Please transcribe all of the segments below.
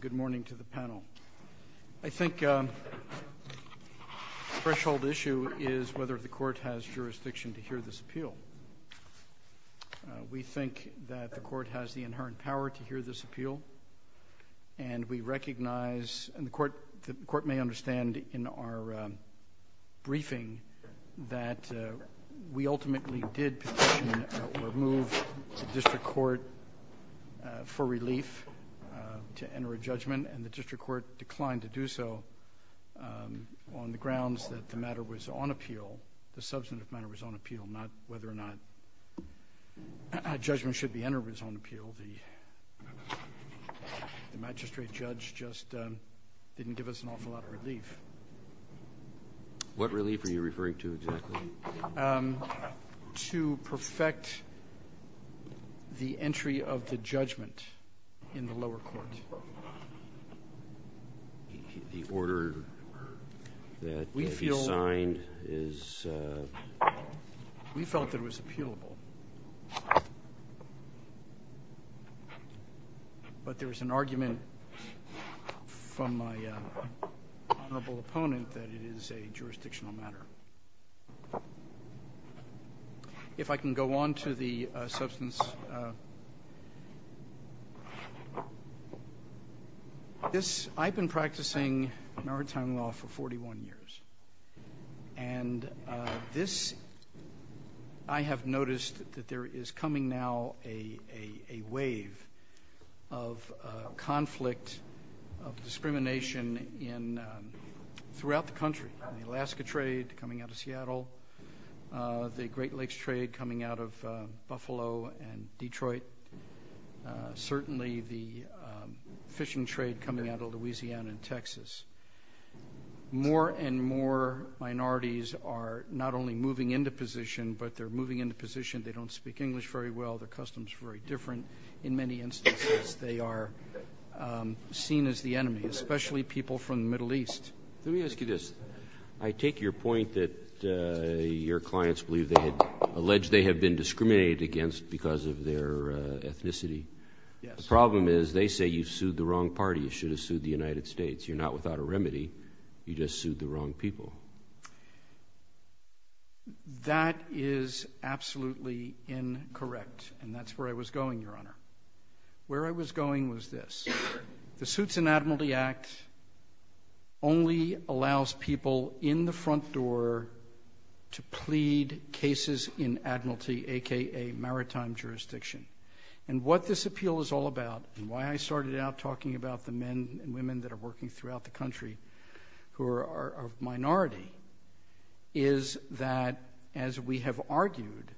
Good morning to the panel. I think the threshold issue is whether the court has jurisdiction to hear this appeal. We think that the court has the inherent power to hear this appeal and we recognize, and the court may understand in our briefing, that we ultimately did petition or move the district court for relief to enter a judgment and the district court declined to do so on the grounds that the matter was on appeal, the substantive matter was on appeal, not whether or not a judgment should be entered was on appeal. The magistrate judge just didn't give us an awful lot of relief. What relief are you referring to exactly? To perfect the entry of the judgment in the lower court. The order that he signed is... We felt that it was appealable. But there was an argument from my honorable opponent that it is a jurisdictional matter. If I can go on to the substance. I've been practicing maritime law for 41 years. I have noticed that there is coming now a wave of conflict, of discrimination throughout the country. The Alaska trade coming out of Seattle, the Great Lakes trade coming out of Buffalo and Detroit, certainly the fishing trade coming out of Louisiana and Texas. More and more minorities are not only moving into position, but they're moving into position, they don't speak English very well, their customs are very different. In many instances they are seen as the enemy, especially people from the Middle East. Let me ask you this. I take your point that your clients believe they have been discriminated against because of their ethnicity. The problem is they say you've sued the wrong party, you should have sued the United States. You're not without a remedy, you just sued the wrong people. That is absolutely incorrect. And that's where I was going, Your Honor. Where I was going was this. The Suits and Admiralty Act only allows people in the front door to plead cases in admiralty, a.k.a. maritime jurisdiction. And what this appeal is all about, and why I started out talking about the men and women that are working throughout the country who are a minority, is that, as we have argued,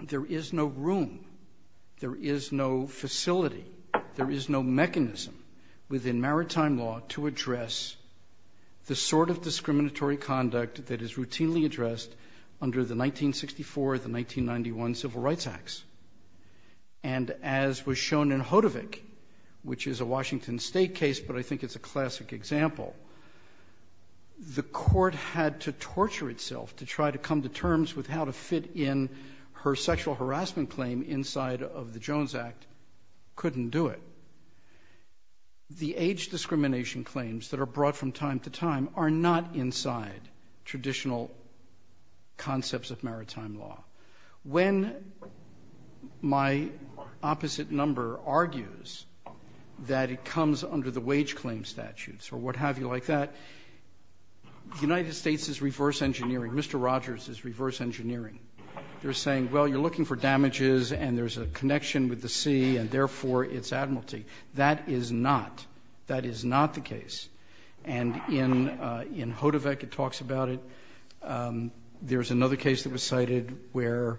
there is no room, there is no facility, there is no mechanism within maritime law to address the sort of discriminatory conduct that is routinely addressed under the 1964, the 1991 Civil Rights Acts. And as was shown in Hodovick, which is a Washington State case, but I think it's a classic example, the court had to torture itself to try to come to terms with how to fit in her sexual harassment claim inside of the Jones Act, couldn't do it. The age discrimination claims that are brought from time to time are not inside traditional concepts of maritime law. When my opposite number argues that it comes under the wage claim statutes or what have you like that, the United States is reverse engineering. Mr. Rogers is reverse engineering. They're saying, well, you're looking for damages, and there's a connection with the sea, and therefore it's admiralty. That is not. That is not the case. And in Hodovick it talks about it. There's another case that was cited where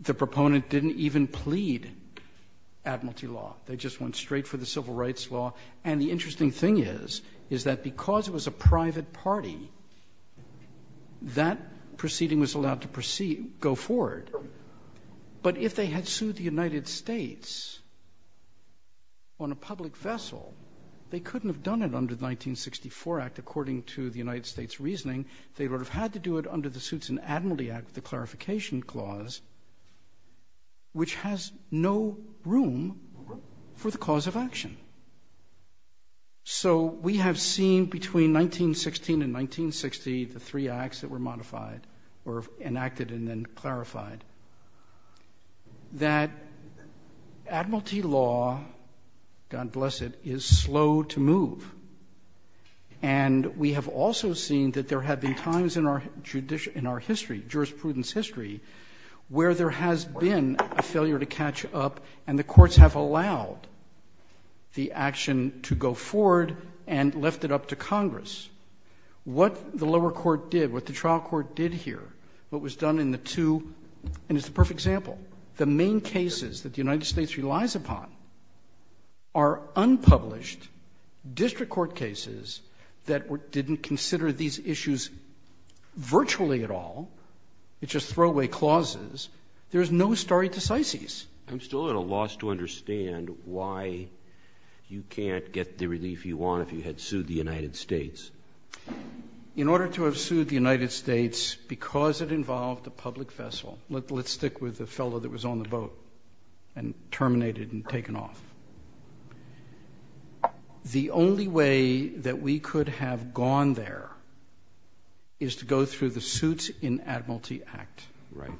the proponent didn't even plead admiralty law. They just went straight for the civil rights law. And the interesting thing is, is that because it was a private party, that proceeding was allowed to proceed, go forward. But if they had sued the United States on a public vessel, they couldn't have done it under the 1964 Act. According to the United States' reasoning, they would have had to do it under the Suits and Admiralty Act, the clarification clause, which has no room for the cause of action. So we have seen between 1916 and 1960 the three acts that were modified or enacted and then clarified, that admiralty law, God bless it, is slow to move. And we have also seen that there have been times in our history, jurisprudence history, where there has been a failure to catch up, and the courts have allowed the action to go forward and lift it up to Congress. What the lower court did, what the trial court did here, what was done in the two and it's the perfect example, the main cases that the United States relies upon are unpublished district court cases that didn't consider these issues virtually at all. It's just throwaway clauses. There is no stare decisis. I'm still at a loss to understand why you can't get the relief you want if you had sued the United States. In order to have sued the United States, because it involved a public vessel, let's stick with the fellow that was on the boat and terminated and taken off. The only way that we could have gone there is to go through the Suits and Admiralty Act. Right.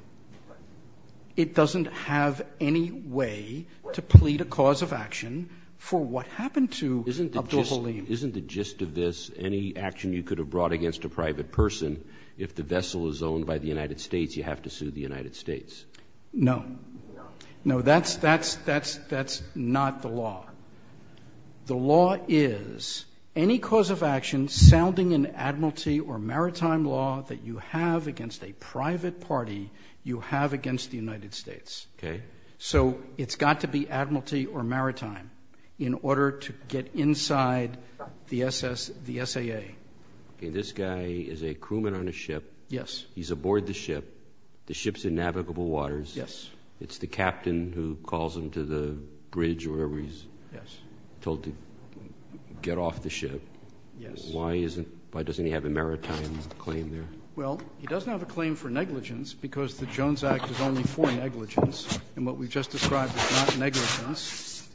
It doesn't have any way to plead a cause of action for what happened to Abdul-Halim. Isn't the gist of this any action you could have brought against a private person if the vessel is owned by the United States, you have to sue the United States? No. No. No, that's not the law. The law is any cause of action sounding an Admiralty or Maritime law that you have against a private party you have against the United States. Okay. So it's got to be Admiralty or Maritime in order to get inside the SAA. This guy is a crewman on a ship. Yes. He's aboard the ship. The ship's in navigable waters. Yes. It's the captain who calls him to the bridge or wherever he's told to get off the ship. Yes. Why doesn't he have a Maritime claim there? Well, he doesn't have a claim for negligence because the Jones Act is only for negligence, and what we've just described is not negligence.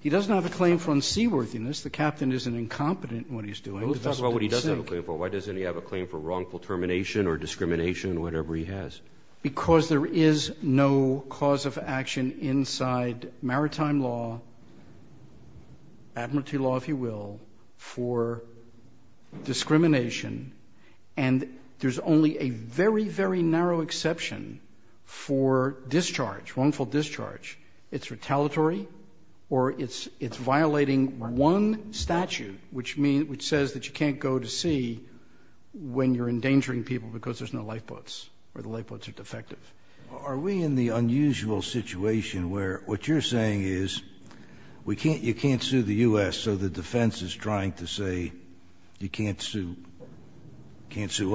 He doesn't have a claim for unseaworthiness. The captain isn't incompetent in what he's doing. Let's talk about what he does have a claim for. Why doesn't he have a claim for wrongful termination or discrimination or whatever he has? Because there is no cause of action inside Maritime law, Admiralty law, if you will, for discrimination, and there's only a very, very narrow exception for discharge, wrongful discharge. It's retaliatory or it's violating one statute, which says that you can't go to sea when you're endangering people because there's no lifeboats or the lifeboats are defective. Are we in the unusual situation where what you're saying is you can't sue the U.S., so the defense is trying to say you can't sue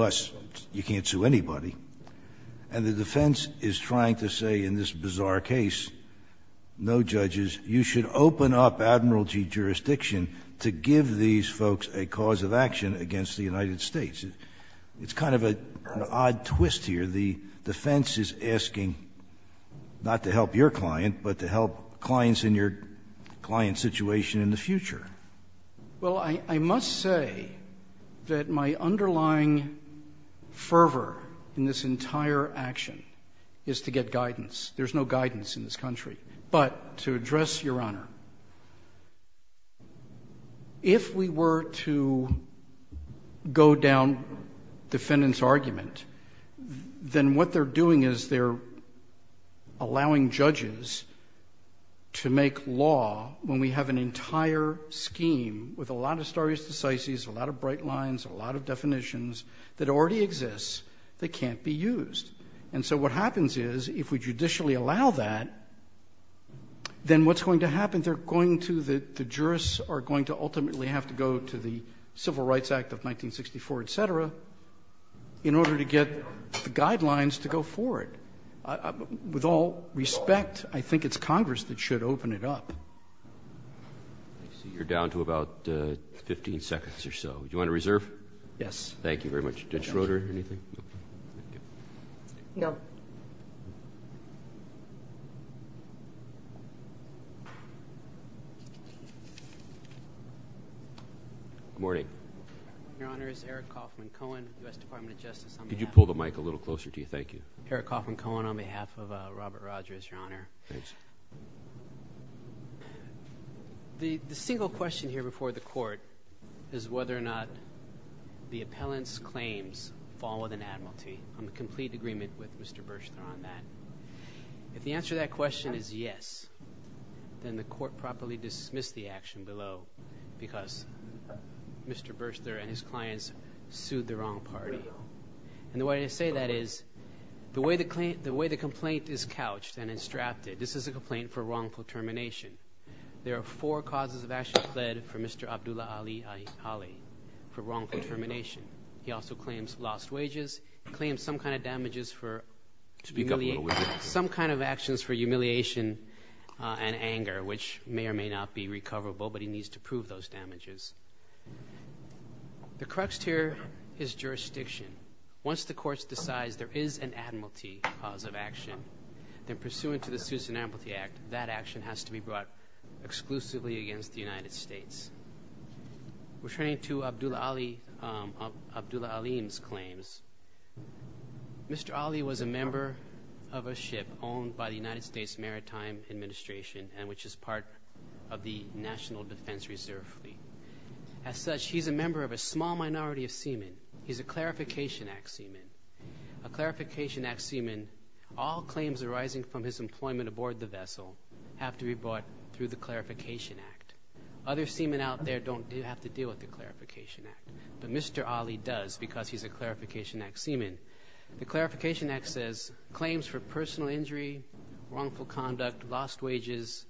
us, you can't sue anybody, and the defense is trying to say in this bizarre case, no judges, you should open up Admiralty jurisdiction to give these folks a cause of action against the United States. It's kind of an odd twist here. The defense is asking not to help your client, but to help clients in your client's situation in the future. Well, I must say that my underlying fervor in this entire action is to get guidance. There's no guidance in this country. But to address Your Honor, if we were to go down defendant's argument, then what they're doing is they're allowing judges to make law when we have an entire scheme with a lot of stare decisis, a lot of bright lines, a lot of definitions that already exist that can't be used. And so what happens is if we judicially allow that, then what's going to happen? They're going to, the jurists are going to ultimately have to go to the Civil Rights Act of 1964, et cetera, in order to get the guidelines to go forward. With all respect, I think it's Congress that should open it up. I see you're down to about 15 seconds or so. Do you want to reserve? Yes. Thank you very much. Judge Schroeder, anything? No. Good morning. Your Honor, it's Eric Coffman Cohen, U.S. Department of Justice. Could you pull the mic a little closer to you? Thank you. Eric Coffman Cohen on behalf of Robert Rogers, Your Honor. Thanks. The single question here before the court is whether or not the appellant's claims fall within admiralty. I'm in complete agreement with Mr. Burster on that. If the answer to that question is yes, then the court properly dismissed the action below because Mr. Burster and his clients sued the wrong party. And the way I say that is the way the complaint is couched and it's drafted, this is a complaint for wrongful termination. There are four causes of action pled for Mr. Abdullah Ali for wrongful termination. He also claims lost wages, claims some kind of damages for – some kind of actions for humiliation and anger, which may or may not be recoverable, but he needs to prove those damages. The crux here is jurisdiction. Once the courts decide there is an admiralty cause of action, then pursuant to the Suits and Admiralty Act, that action has to be brought exclusively against the United States. Returning to Abdullah Ali – Abdullah Ali's claims, Mr. Ali was a member of a ship owned by the United States Maritime Administration and which is part of the National Defense Reserve Fleet. As such, he's a member of a small minority of seamen. He's a Clarification Act seaman. A Clarification Act seaman, all claims arising from his employment aboard the vessel have to be brought through the Clarification Act. Other seamen out there don't have to deal with the Clarification Act, but Mr. Ali does because he's a Clarification Act seaman. The Clarification Act says claims for personal injury, wrongful conduct, lost wages,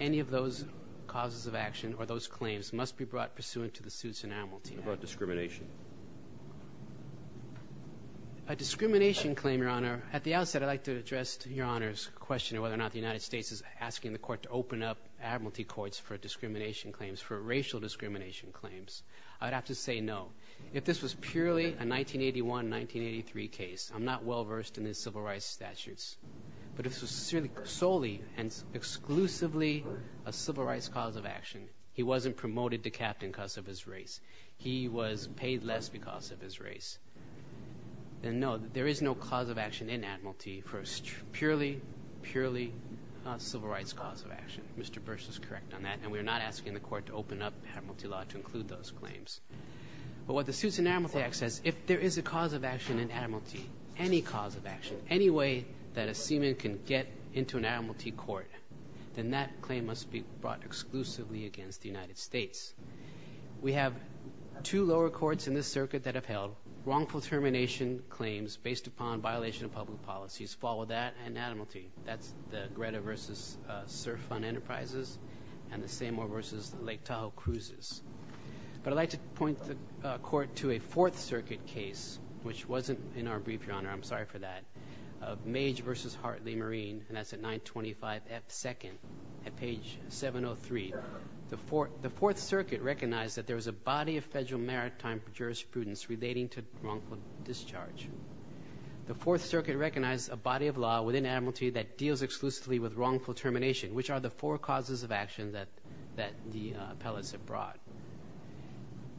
any of those causes of action or those claims must be brought pursuant to the Suits and Admiralty Act. What about discrimination? A discrimination claim, Your Honor – at the outset, I'd like to address Your Honor's question of whether or not the United States is asking the court to open up admiralty courts for discrimination claims, for racial discrimination claims. I'd have to say no. If this was purely a 1981-1983 case, I'm not well versed in the civil rights statutes. But if this was solely and exclusively a civil rights cause of action, he wasn't promoted to captain because of his race. He was paid less because of his race. Then no, there is no cause of action in admiralty for a purely, purely civil rights cause of action. Mr. Bursch is correct on that, and we're not asking the court to open up admiralty law to include those claims. But what the Suits and Admiralty Act says, if there is a cause of action in admiralty, any cause of action, any way that a seaman can get into an admiralty court, then that claim must be brought exclusively against the United States. We have two lower courts in this circuit that upheld wrongful termination claims based upon violation of public policies. Follow that and admiralty. That's the Greta v. Surf Fund Enterprises and the Seymour v. Lake Tahoe Cruises. But I'd like to point the court to a Fourth Circuit case, which wasn't in our brief, Your Honor. I'm sorry for that, of Mage v. Hartley Marine, and that's at 925F2nd at page 703. The Fourth Circuit recognized that there was a body of federal maritime jurisprudence relating to wrongful discharge. The Fourth Circuit recognized a body of law within admiralty that deals exclusively with wrongful termination, which are the four causes of action that the appellates have brought.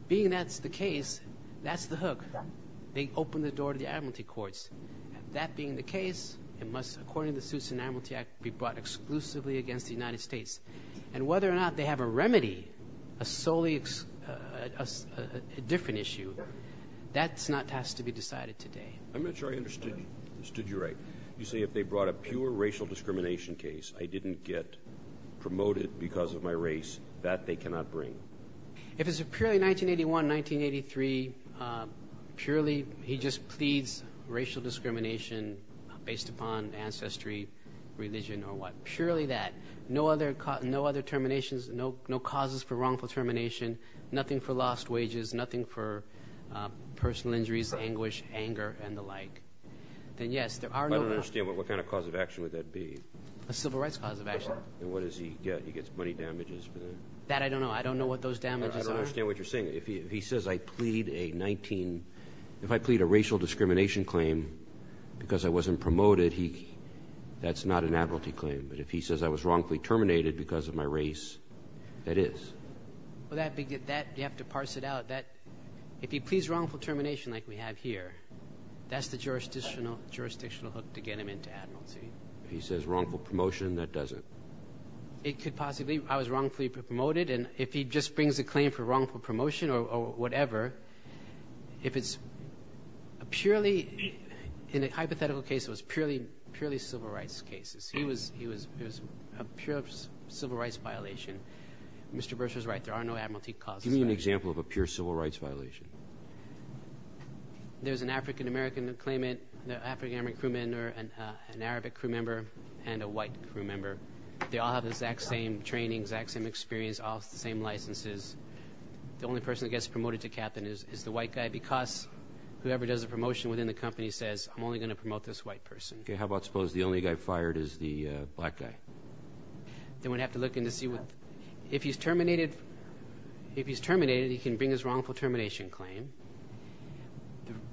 Being that's the case, that's the hook. They opened the door to the admiralty courts. That being the case, it must, according to the Suits and Admiralty Act, be brought exclusively against the United States. And whether or not they have a remedy, a solely different issue, that has to be decided today. I'm not sure I understood you right. You say if they brought a pure racial discrimination case, I didn't get promoted because of my race. That they cannot bring. If it's purely 1981, 1983, purely he just pleads racial discrimination based upon ancestry, religion, or what. If it's purely that, no other terminations, no causes for wrongful termination, nothing for lost wages, nothing for personal injuries, anguish, anger, and the like. Then, yes, there are no – I don't understand. What kind of cause of action would that be? A civil rights cause of action. And what does he get? He gets money damages for that. That I don't know. I don't know what those damages are. I don't understand what you're saying. If he says I plead a 19 – if I plead a racial discrimination claim because I wasn't promoted, that's not an admiralty claim. But if he says I was wrongfully terminated because of my race, that is. Well, that – you have to parse it out. If he pleads wrongful termination like we have here, that's the jurisdictional hook to get him into admiralty. If he says wrongful promotion, that doesn't. It could possibly – I was wrongfully promoted. And if he just brings a claim for wrongful promotion or whatever, if it's a purely – in a hypothetical case, it was purely civil rights cases. It was a pure civil rights violation. Mr. Bursch was right. There are no admiralty causes. Give me an example of a pure civil rights violation. There's an African-American claimant, an African-American crew member, an Arabic crew member, and a white crew member. They all have the exact same training, exact same experience, all the same licenses. The only person that gets promoted to captain is the white guy because whoever does the promotion within the company says, I'm only going to promote this white person. Okay. How about suppose the only guy fired is the black guy? Then we'd have to look in to see what – if he's terminated, he can bring his wrongful termination claim.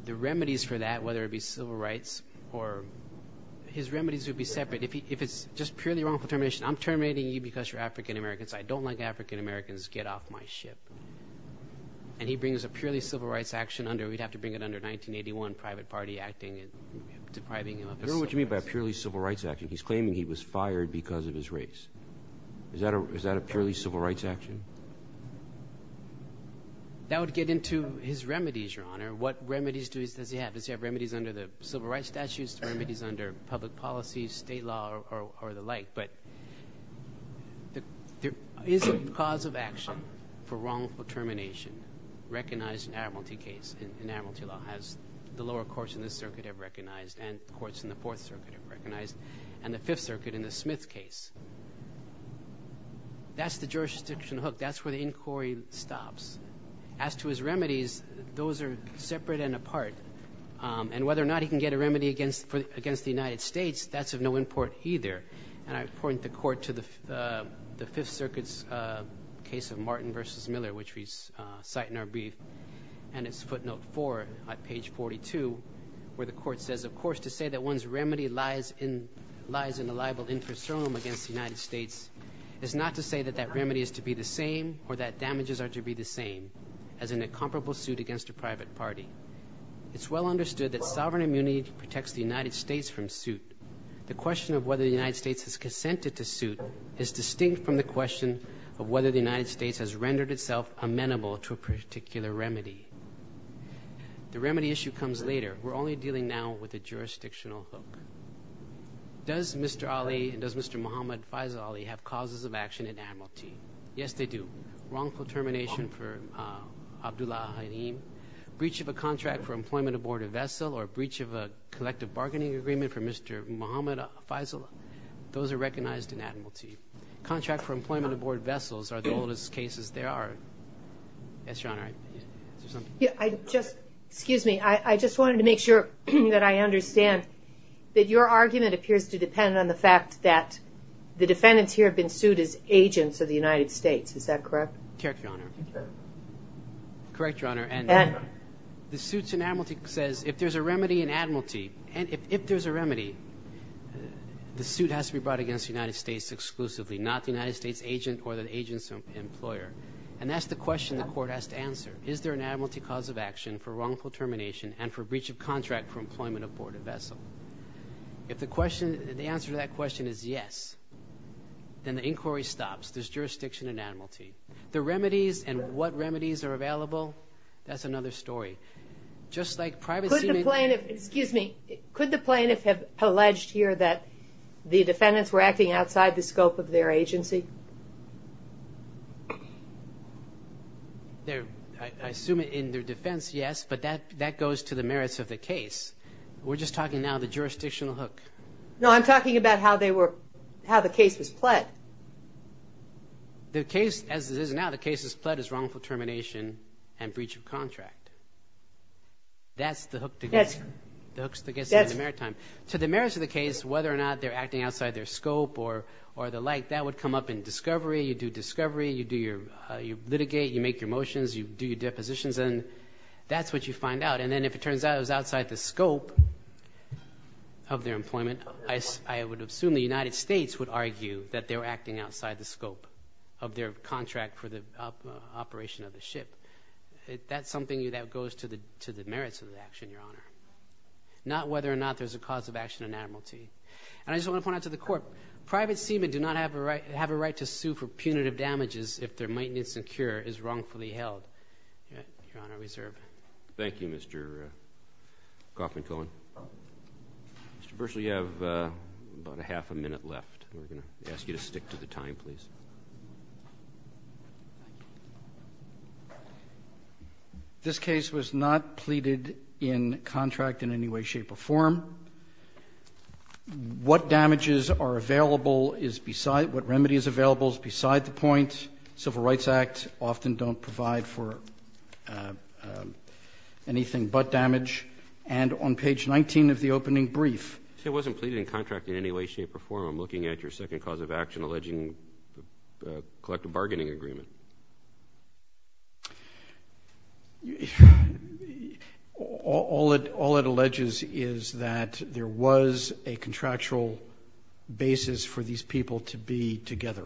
The remedies for that, whether it be civil rights or – his remedies would be separate. If it's just purely wrongful termination, I'm terminating you because you're African-Americans. I don't like African-Americans. Get off my ship. And he brings a purely civil rights action under it. We'd have to bring it under 1981, private party acting and depriving him of his civil rights. I don't know what you mean by a purely civil rights action. He's claiming he was fired because of his race. Is that a purely civil rights action? That would get into his remedies, Your Honor. What remedies does he have? Does he have remedies under the civil rights statutes, remedies under public policy, state law, or the like? But there isn't cause of action for wrongful termination recognized in Admiralty case in Admiralty law as the lower courts in this circuit have recognized and the courts in the Fourth Circuit have recognized and the Fifth Circuit in the Smith case. That's the jurisdiction hook. That's where the inquiry stops. As to his remedies, those are separate and apart. And whether or not he can get a remedy against the United States, that's of no import either. And I point the court to the Fifth Circuit's case of Martin v. Miller, which we cite in our brief, and it's footnote 4 on page 42 where the court says, of course, to say that one's remedy lies in a liable infrastructure against the United States is not to say that that remedy is to be the same or that damages are to be the same as in a comparable suit against a private party. It's well understood that sovereign immunity protects the United States from suit. The question of whether the United States has consented to suit is distinct from the question of whether the United States has rendered itself amenable to a particular remedy. The remedy issue comes later. We're only dealing now with the jurisdictional hook. Does Mr. Ali and does Mr. Muhammad Faisal Ali have causes of action in Admiralty? Yes, they do. Wrongful termination for Abdullah al-Khaim, breach of a contract for employment aboard a vessel, or breach of a collective bargaining agreement for Mr. Muhammad Faisal? Those are recognized in Admiralty. Contracts for employment aboard vessels are the oldest cases there are. Yes, Your Honor. Excuse me. I just wanted to make sure that I understand that your argument appears to depend on the fact that the defendants here have been sued as agents of the United States. Is that correct? Correct, Your Honor. Correct, Your Honor, and the suits in Admiralty says if there's a remedy in Admiralty, and if there's a remedy, the suit has to be brought against the United States exclusively, not the United States agent or the agent's employer. And that's the question the court has to answer. Is there an Admiralty cause of action for wrongful termination and for breach of contract for employment aboard a vessel? If the answer to that question is yes, then the inquiry stops. There's jurisdiction in Admiralty. The remedies and what remedies are available, that's another story. Just like privacy. Excuse me. Could the plaintiff have alleged here that the defendants were acting outside the scope of their agency? I assume in their defense, yes, but that goes to the merits of the case. We're just talking now the jurisdictional hook. No, I'm talking about how the case was pled. The case, as it is now, the case is pled as wrongful termination and breach of contract. That's the hook that gets you in the merit time. To the merits of the case, whether or not they're acting outside their scope or the like, that would come up in discovery. You do discovery, you litigate, you make your motions, you do your depositions, and that's what you find out. And then if it turns out it was outside the scope of their employment, I would assume the United States would argue that they were acting outside the scope of their contract for the operation of the ship. That's something that goes to the merits of the action, Your Honor, not whether or not there's a cause of action enamel to you. And I just want to point out to the court, private seamen do not have a right to sue for punitive damages if their maintenance and cure is wrongfully held. Your Honor, we serve. Thank you, Mr. Coffman-Cohen. Mr. Burschel, you have about a half a minute left. I'm going to ask you to stick to the time, please. This case was not pleaded in contract in any way, shape, or form. What damages are available is beside, what remedy is available is beside the point. Civil Rights Act often don't provide for anything but damage. And on page 19 of the opening brief. It wasn't pleaded in contract in any way, shape, or form. I'm looking at your second cause of action alleging collective bargaining agreement. All it alleges is that there was a contractual basis for these people to be together.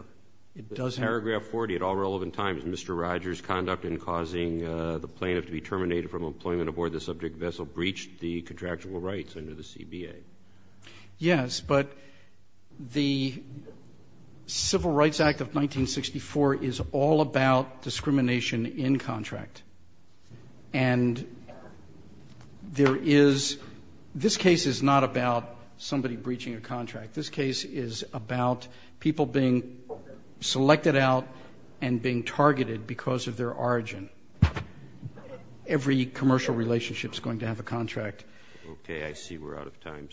It doesn't. Paragraph 40, at all relevant times, Mr. Rogers' conduct in causing the plaintiff to be terminated from employment aboard the subject vessel breached the contractual rights under the CBA. Yes, but the Civil Rights Act of 1964 is all about discrimination in contract. And there is, this case is not about somebody breaching a contract. This case is about people being selected out and being targeted because of their origin. Every commercial relationship is going to have a contract. Okay, I see we're out of time.